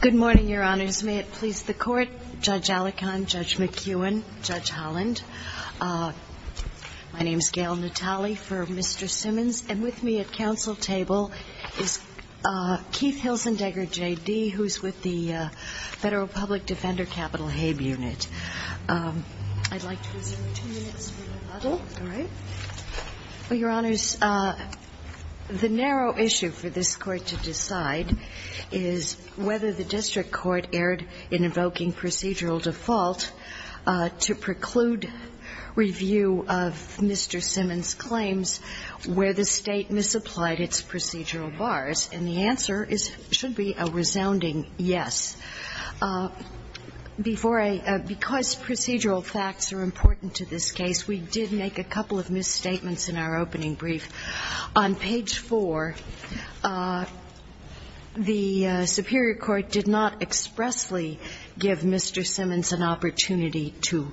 Good morning, Your Honors. May it please the Court, Judge Alecan, Judge McEwen, Judge Holland. My name is Gail Natale for Mr. Simmons, and with me at counsel table is Keith Hilzendegger, J.D., who is with the Federal Public Defender Capital Habe Unit. I'd like to resume two minutes from the model. All right. Well, Your Honors, the narrow issue for this Court to decide is whether the district court erred in invoking procedural default to preclude review of Mr. Simmons's claims where the State misapplied its procedural bars. And the answer should be a resounding yes. Before I – because procedural facts are important to this case, we did make a couple of misstatements in our opening brief. On page 4, the superior court did not expressly give Mr. Simmons an opportunity to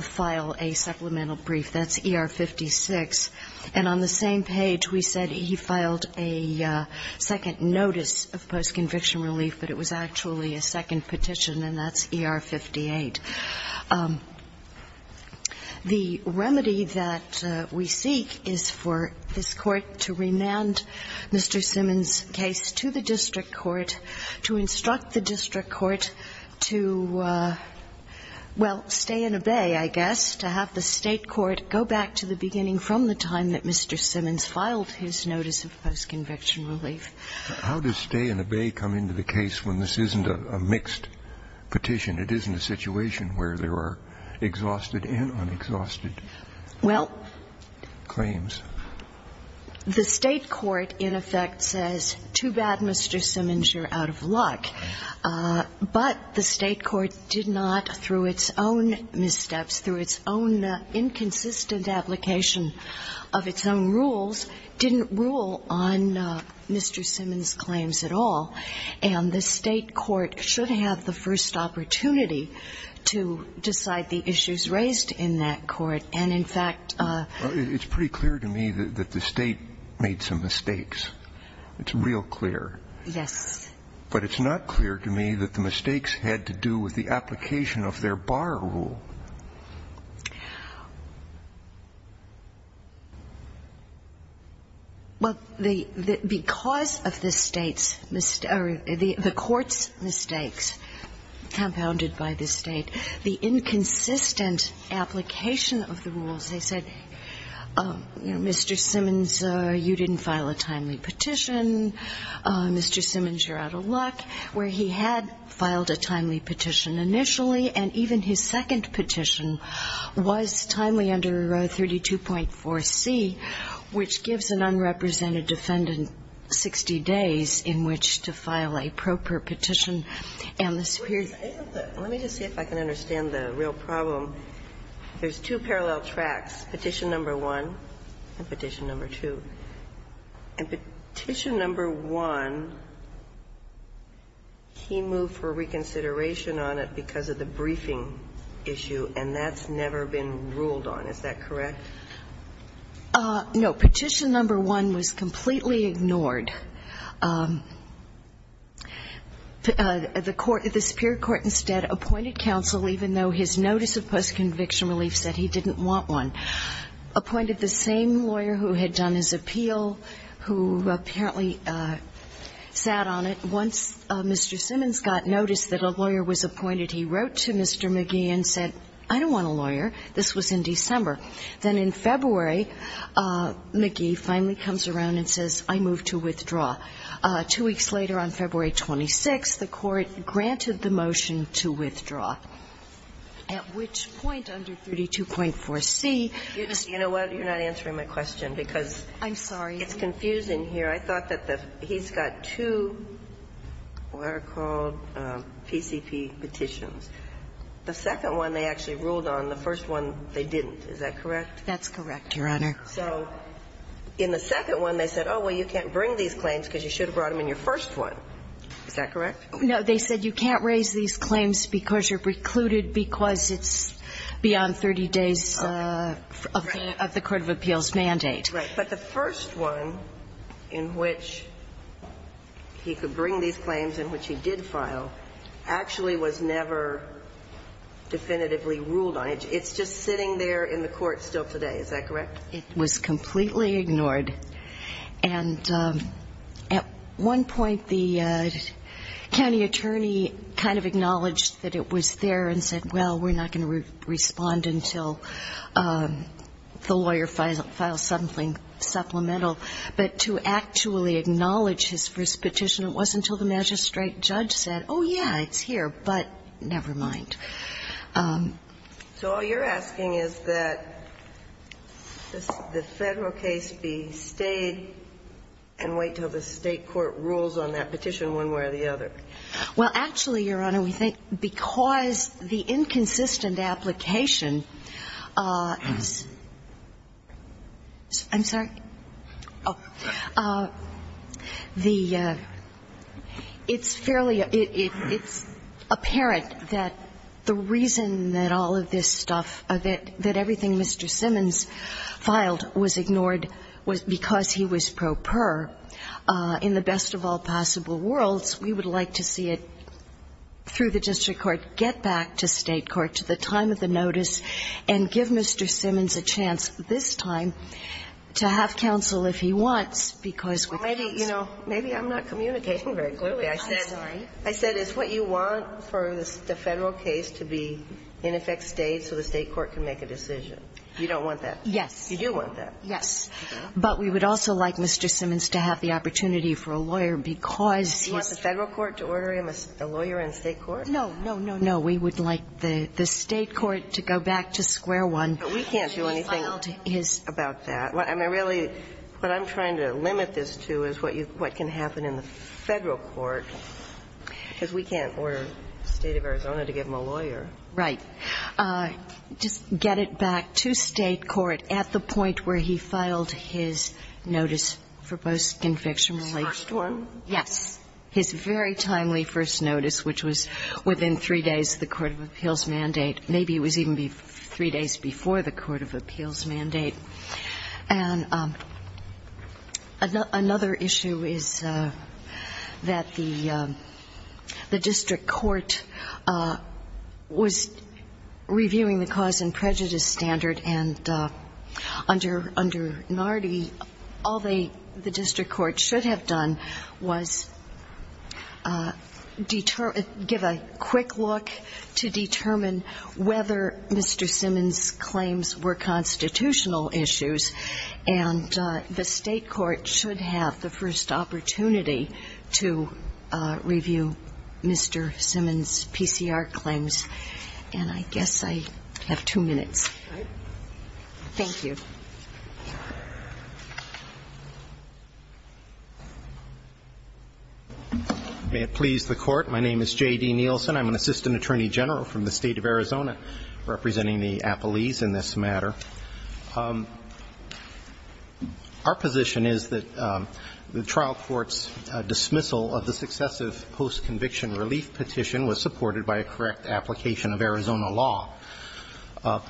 file a supplemental brief. That's ER 56. And on the same page, we said he filed a second notice of post-conviction relief, but it was actually a second petition, and that's ER 58. The remedy that we seek is for this Court to remand Mr. Simmons's case to the district court, to instruct the district court to, well, stay and obey, I guess, to have the State court go back to the beginning from the time that Mr. Simmons filed his notice of post-conviction relief. How does stay and obey come into the case when this isn't a mixed petition? It isn't a situation where there are exhausted and unexhausted claims? Well, the State court, in effect, says, too bad, Mr. Simmons, you're out of luck. But the State court did not, through its own missteps, through its own inconsistent application of its own rules, didn't rule on Mr. Simmons's claims at all. And the State court should have the first opportunity to decide the issues raised in that court. And, in fact ---- It's pretty clear to me that the State made some mistakes. It's real clear. Yes. But it's not clear to me that the mistakes had to do with the application of their bar rule. Well, because of the State's or the court's mistakes compounded by the State, the inconsistent application of the rules, they said, Mr. Simmons, you didn't file a timely petition. Mr. Simmons, you're out of luck. Where he had filed a timely petition initially, and even his second petition was timely under 32.4c, which gives an unrepresented defendant 60 days in which to file a proper petition and the superior ---- Let me just see if I can understand the real problem. There's two parallel tracks, Petition No. 1 and Petition No. 2. And Petition No. 1, he moved for reconsideration on it because of the briefing issue, and that's never been ruled on. Is that correct? No. Petition No. 1 was completely ignored. The court ---- the superior court instead appointed counsel, even though his notice of postconviction relief said he didn't want one, appointed the same lawyer who had done his appeal, who apparently sat on it. Once Mr. Simmons got notice that a lawyer was appointed, he wrote to Mr. McGee and said, I don't want a lawyer. This was in December. Then in February, McGee finally comes around and says, I move to withdraw. Two weeks later, on February 26th, the court granted the motion to withdraw, at which point, under 32.4c, Mr. ---- You know what, you're not answering my question because ---- I'm sorry. It's confusing here. I thought that the ---- he's got two what are called PCP petitions. The second one they actually ruled on. The first one they didn't. Is that correct? That's correct, Your Honor. So in the second one, they said, oh, well, you can't bring these claims because you should have brought them in your first one. Is that correct? No. They said you can't raise these claims because you're precluded because it's beyond 30 days of the court of appeals mandate. Right. But the first one in which he could bring these claims, in which he did file, actually was never definitively ruled on. It's just sitting there in the court still today. Is that correct? It was completely ignored. And at one point, the county attorney kind of acknowledged that it was there and said, well, we're not going to respond until the lawyer files something supplemental. But to actually acknowledge his first petition, it wasn't until the magistrate judge said, oh, yeah, it's here, but never mind. So all you're asking is that the Federal case be stayed and wait until the State court rules on that petition one way or the other. Well, actually, Your Honor, we think because the inconsistent application is the reason that all of this stuff, that everything Mr. Simmons filed was ignored because he was pro per in the best of all possible worlds, we would like to see it through the district court, get back to State court, to the time of the notice, and give Mr. Simmons a chance this time to have counsel if he wants, because with the counsel Well, maybe, you know, maybe I'm not communicating very clearly. I said it's what you want for the Federal case to be in effect stayed so the State court can make a decision. You don't want that? Yes. You do want that? Yes. But we would also like Mr. Simmons to have the opportunity for a lawyer because Do you want the Federal court to order him a lawyer in State court? No, no, no, no. We would like the State court to go back to square one. But we can't do anything about that. I mean, really, what I'm trying to limit this to is what can happen in the Federal court, because we can't order the State of Arizona to give him a lawyer. Right. Just get it back to State court at the point where he filed his notice for post-conviction relief. His first one? Yes. His very timely first notice, which was within three days of the court of appeals mandate. Maybe it was even three days before the court of appeals mandate. And another issue is that the district court was reviewing the cause and prejudice standard, and under Nardi, all the district court should have done was give a quick look to determine whether Mr. Simmons' claims were constitutional issues. And the State court should have the first opportunity to review Mr. Simmons' PCR claims. And I guess I have two minutes. All right. Thank you. May it please the Court. My name is J.D. Nielsen. I'm an assistant attorney general from the State of Arizona, representing the appellees in this matter. Our position is that the trial court's dismissal of the successive post-conviction relief petition was supported by a correct application of Arizona law.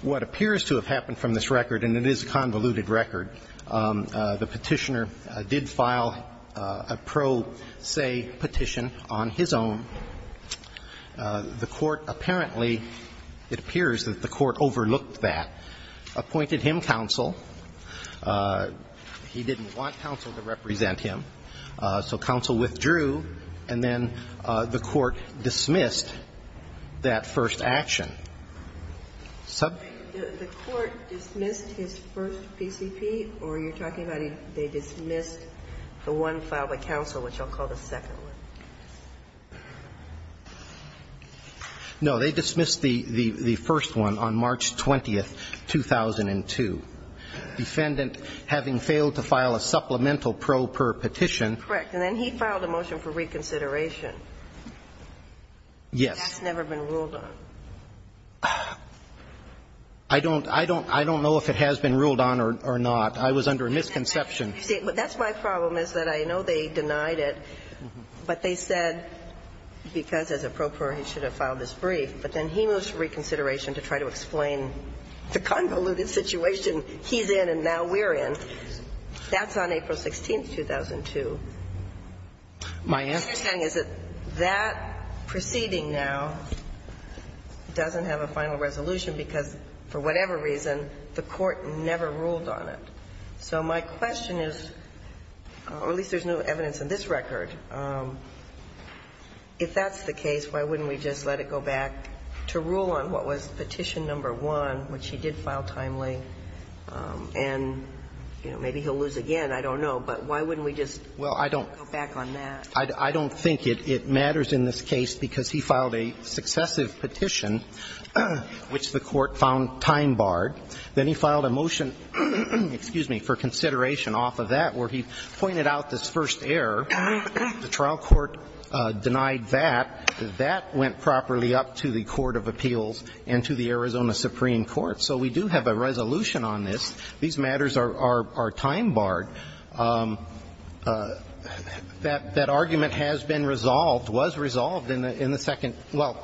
What appears to have happened from this record, and it is a convoluted record, the petitioner did file a pro se petition on his own. The court apparently, it appears that the court overlooked that. Appointed him counsel. He didn't want counsel to represent him. So counsel withdrew. And then the court dismissed that first action. The court dismissed his first PCP? Or are you talking about they dismissed the one filed by counsel, which I'll call the second one? No. They dismissed the first one on March 20th, 2002. Defendant, having failed to file a supplemental pro per petition. Correct. And then he filed a motion for reconsideration. Yes. That's never been ruled on. I don't know if it has been ruled on or not. I was under a misconception. See, that's my problem is that I know they denied it, but they said because as a pro per he should have filed this brief. But then he moves to reconsideration to try to explain the convoluted situation he's in and now we're in. That's on April 16th, 2002. My understanding is that that proceeding now doesn't have a final resolution because, for whatever reason, the court never ruled on it. So my question is, or at least there's no evidence in this record, if that's the case, why wouldn't we just let it go back to rule on what was petition number one, which he did file timely? And, you know, maybe he'll lose again. I don't know. But why wouldn't we just go back on that? Well, I don't think it matters in this case because he filed a successive petition which the court found time-barred. Then he filed a motion, excuse me, for consideration off of that where he pointed out this first error. The trial court denied that. That went properly up to the court of appeals and to the Arizona Supreme Court. So we do have a resolution on this. These matters are time-barred. That argument has been resolved, was resolved in the second – well,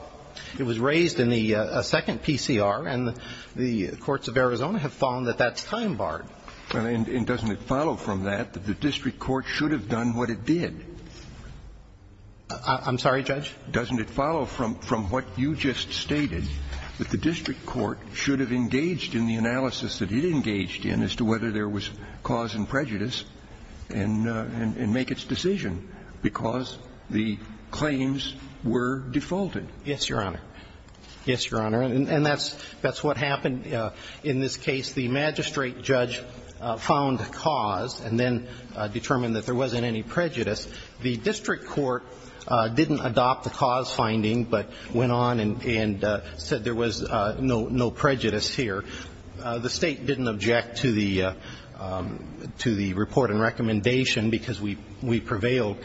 it was raised in the second PCR, and the courts of Arizona have found that that's time-barred. And doesn't it follow from that that the district court should have done what it did? I'm sorry, Judge? Doesn't it follow from what you just stated, that the district court should have engaged in the analysis that it engaged in as to whether there was cause and prejudice and make its decision because the claims were defaulted? Yes, Your Honor. Yes, Your Honor. And that's what happened in this case. The magistrate judge found cause and then determined that there wasn't any prejudice. The district court didn't adopt the cause finding, but went on and said there was no prejudice here. The State didn't object to the report and recommendation because we prevailed.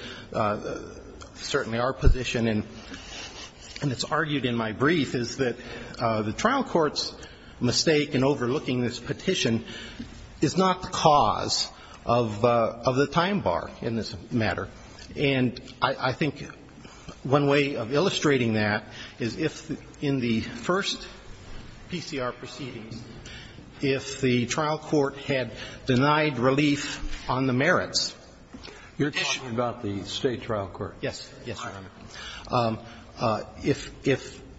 Certainly our position, and it's argued in my brief, is that the trial court's mistake in overlooking this petition is not the cause of the time bar in this matter. And I think one way of illustrating that is if, in the first PCR proceedings, if the trial court had denied relief on the merits. You're talking about the State trial court? Yes. Yes, Your Honor. If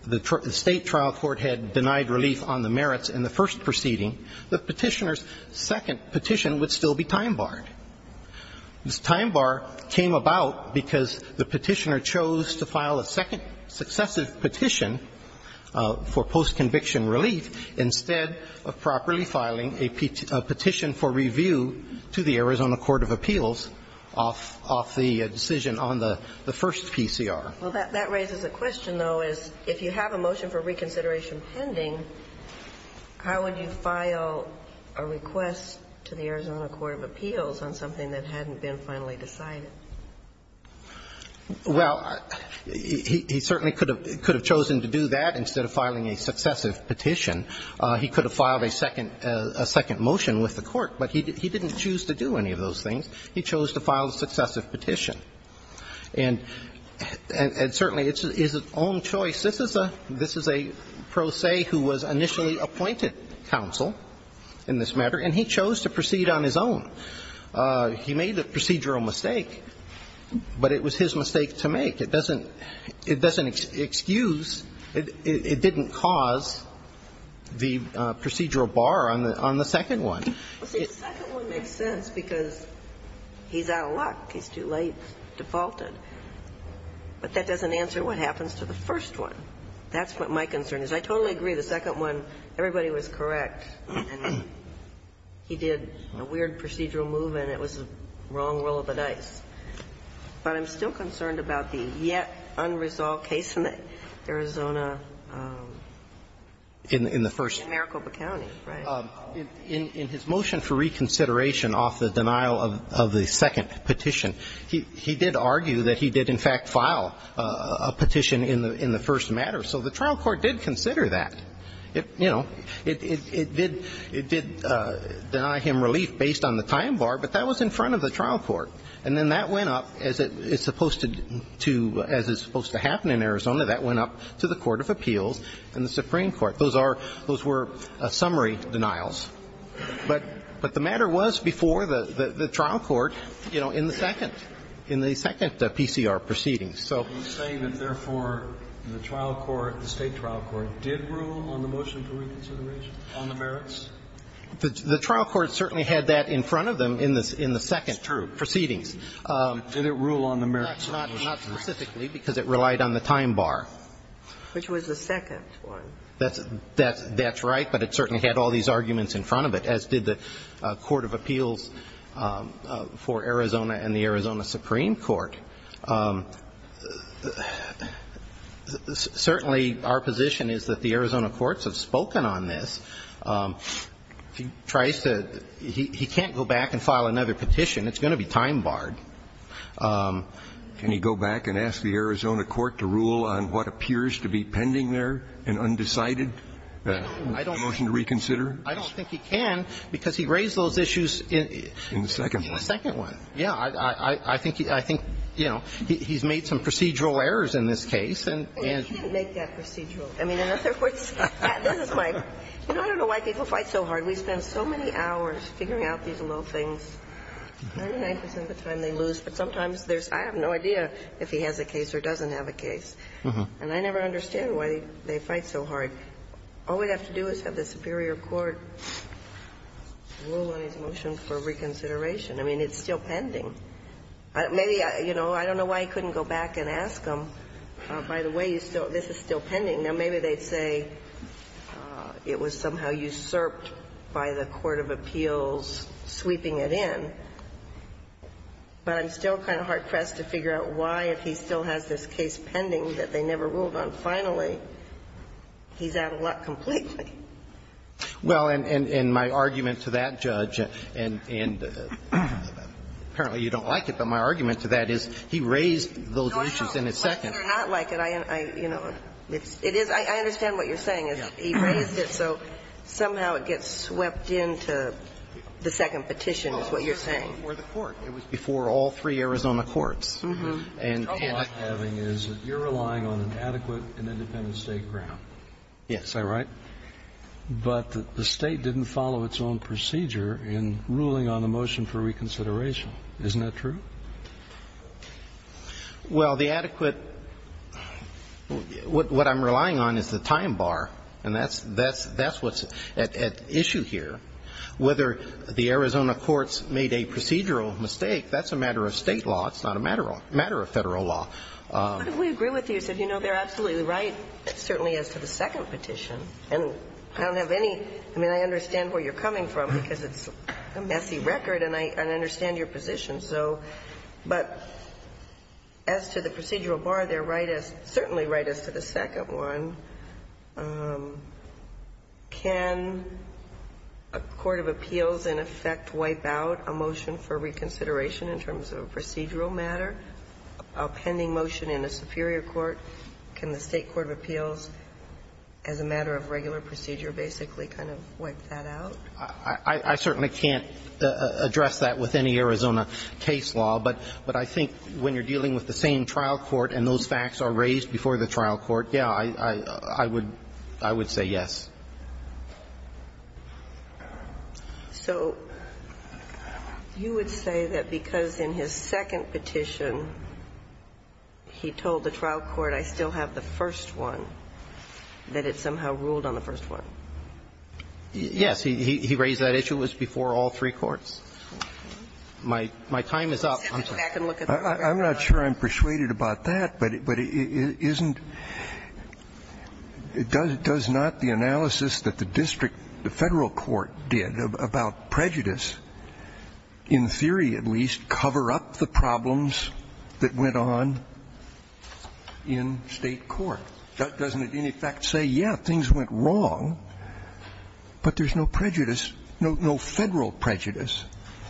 the State trial court had denied relief on the merits in the first proceeding, the Petitioner's second petition would still be time-barred. This time bar came about because the Petitioner chose to file a second successive petition for post-conviction relief instead of properly filing a petition for review to the Arizona Court of Appeals off the decision on the first PCR. Well, that raises a question, though, is if you have a motion for reconsideration pending, how would you file a request to the Arizona Court of Appeals on something that hadn't been finally decided? Well, he certainly could have chosen to do that instead of filing a successive petition. He could have filed a second motion with the Court, but he didn't choose to do any of those things. He chose to file a successive petition. And certainly it's his own choice. This is a pro se who was initially appointed counsel in this matter, and he chose to proceed on his own. He made a procedural mistake, but it was his mistake to make. It doesn't excuse, it didn't cause the procedural bar on the second one. Well, see, the second one makes sense because he's out of luck. He's too late, defaulted. But that doesn't answer what happens to the first one. That's what my concern is. I totally agree. The second one, everybody was correct, and he did a weird procedural move, and it was the wrong roll of the dice. But I'm still concerned about the yet unresolved case in Arizona. In the first. In Maricopa County, right. In his motion for reconsideration off the denial of the second petition, he did argue that he did, in fact, file a petition in the first matter. So the trial court did consider that. It did deny him relief based on the time bar, but that was in front of the trial court. And then that went up, as it's supposed to happen in Arizona, that went up to the Court of Appeals and the Supreme Court. Those were summary denials. But the matter was before the trial court, you know, in the second, in the second PCR proceedings. So. Scalia. Are you saying that, therefore, the trial court, the State trial court, did rule on the motion for reconsideration on the merits? The trial court certainly had that in front of them in the second proceedings. Scalia. It's true. Did it rule on the merits? Not specifically, because it relied on the time bar. Which was the second one. That's right, but it certainly had all these arguments in front of it, as did the Court of Appeals for Arizona and the Arizona Supreme Court. Certainly, our position is that the Arizona courts have spoken on this. He tries to he can't go back and file another petition. It's going to be time barred. Can he go back and ask the Arizona court to rule on what appears to be pending there, an undecided motion to reconsider? I don't think he can, because he raised those issues in. In the second one. In the second one. Yeah. I think, you know, he's made some procedural errors in this case. Well, he didn't make that procedural. I mean, in other words, this is my. You know, I don't know why people fight so hard. We spend so many hours figuring out these little things. 99 percent of the time they lose. But sometimes there's no idea if he has a case or doesn't have a case. And I never understand why they fight so hard. All we'd have to do is have the superior court rule on his motion for reconsideration. I mean, it's still pending. Maybe, you know, I don't know why he couldn't go back and ask them, by the way, you still this is still pending. Now, maybe they'd say it was somehow usurped by the court of appeals sweeping it in. But I'm still kind of hard-pressed to figure out why, if he still has this case pending that they never ruled on, finally, he's out of luck completely. Well, and my argument to that, Judge, and apparently you don't like it, but my argument to that is he raised those issues in his second. No, no. Like it or not like it, I, you know, it is – I understand what you're saying is he raised it, so somehow it gets swept into the second petition is what you're saying. It was before the court. It was before all three Arizona courts. Mm-hmm. And the trouble I'm having is that you're relying on an adequate and independent State ground. Yes. Is that right? But the State didn't follow its own procedure in ruling on the motion for reconsideration. Isn't that true? Well, the adequate – what I'm relying on is the time bar, and that's what's at issue here. Whether the Arizona courts made a procedural mistake, that's a matter of State law. It's not a matter of Federal law. But if we agree with you, you said, you know, they're absolutely right, certainly as to the second petition, and I don't have any – I mean, I understand where you're coming from because it's a messy record, and I understand your position, so – but as to the procedural bar, they're right as – certainly right as to the second one. Can a court of appeals in effect wipe out a motion for reconsideration in terms of a procedural matter, a pending motion in a superior court? Can the State court of appeals, as a matter of regular procedure, basically kind of wipe that out? I certainly can't address that with any Arizona case law, but I think when you're I would – I would say yes. So you would say that because in his second petition he told the trial court, I still have the first one, that it somehow ruled on the first one? Yes. He raised that issue. It was before all three courts. My time is up. I'm sorry. I'm not sure I'm persuaded about that. But isn't – does not the analysis that the district, the Federal court did about prejudice, in theory at least, cover up the problems that went on in State court? Doesn't it in effect say, yes, things went wrong, but there's no prejudice, no Federal prejudice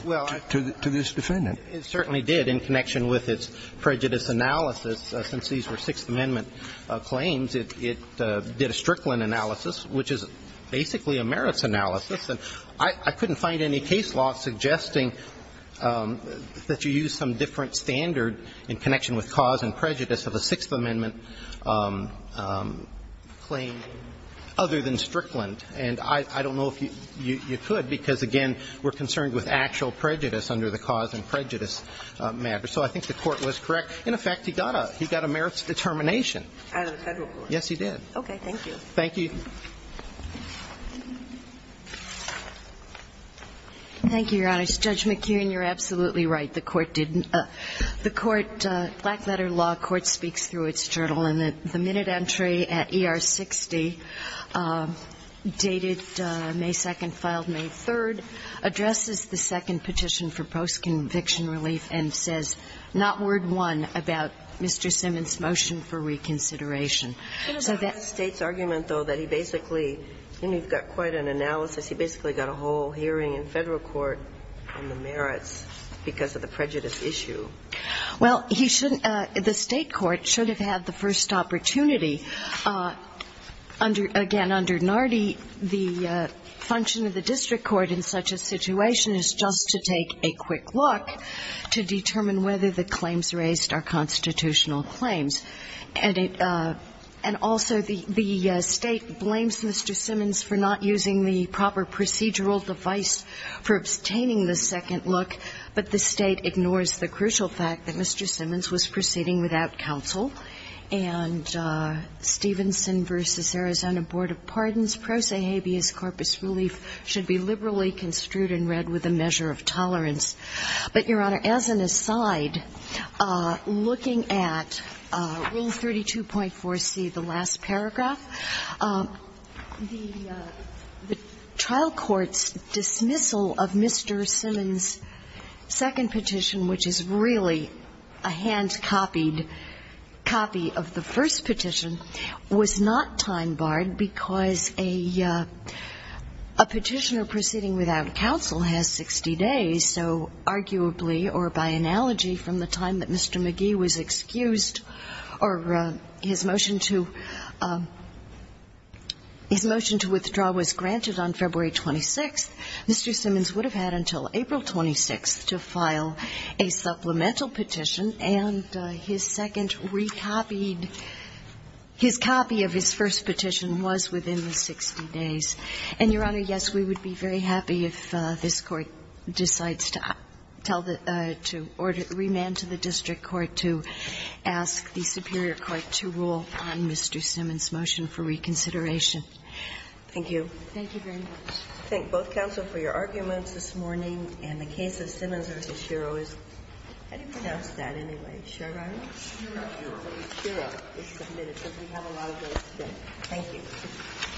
to this defendant? It certainly did in connection with its prejudice analysis. Since these were Sixth Amendment claims, it did a Strickland analysis, which is basically a merits analysis. And I couldn't find any case law suggesting that you use some different standard in connection with cause and prejudice of a Sixth Amendment claim other than Strickland. And I don't know if you could, because, again, we're concerned with actual prejudice under the cause and prejudice matter. So I think the Court was correct. In effect, he got a merits determination. Out of the Federal court. Yes, he did. Okay. Thank you. Thank you. Thank you, Your Honors. Judge McKeown, you're absolutely right. The Court didn't – the Court – Blackletter Law Court speaks through its journal, and the minute entry at ER 60, dated May 2nd, filed May 3rd, addresses the second petition for post-conviction relief and says not word one about Mr. Simmons's motion for reconsideration. So that's – But it's not the State's argument, though, that he basically – I mean, you've got quite an analysis. He basically got a whole hearing in Federal court on the merits because of the prejudice issue. Well, he shouldn't – the State court should have had the first opportunity. Under – again, under Nardi, the function of the district court in such a situation is just to take a quick look to determine whether the claims raised are constitutional claims. And it – and also, the State blames Mr. Simmons for not using the proper procedural device for obtaining the second look, but the State ignores the crucial fact that Mr. Simmons was proceeding without counsel. And Stevenson v. Arizona Board of Pardons pro se habeas corpus relief should be liberally construed and read with a measure of tolerance. But, Your Honor, as an aside, looking at Rule 32.4c, the last paragraph, the trial court's dismissal of Mr. Simmons' second petition, which is really a hand-copied copy of the first petition, was not time-barred because a – a petitioner proceeding without counsel has 60 days. So arguably, or by analogy, from the time that Mr. McGee was excused or his motion to – his motion to withdraw was granted on February 26th, Mr. Simmons would have had until April 26th to file a supplemental petition, and his second recopied – his copy of his first petition was within the 60 days. And, Your Honor, yes, we would be very happy if this Court decides to tell the – to remand to the district court to ask the superior court to rule on Mr. Simmons' motion for reconsideration. Thank you. Thank you very much. I thank both counsel for your arguments this morning. And the case of Simmons v. Shiro is – how do you pronounce that anyway? Shiro? Shiro. Shiro is submitted, because we have a lot of those today. Thank you.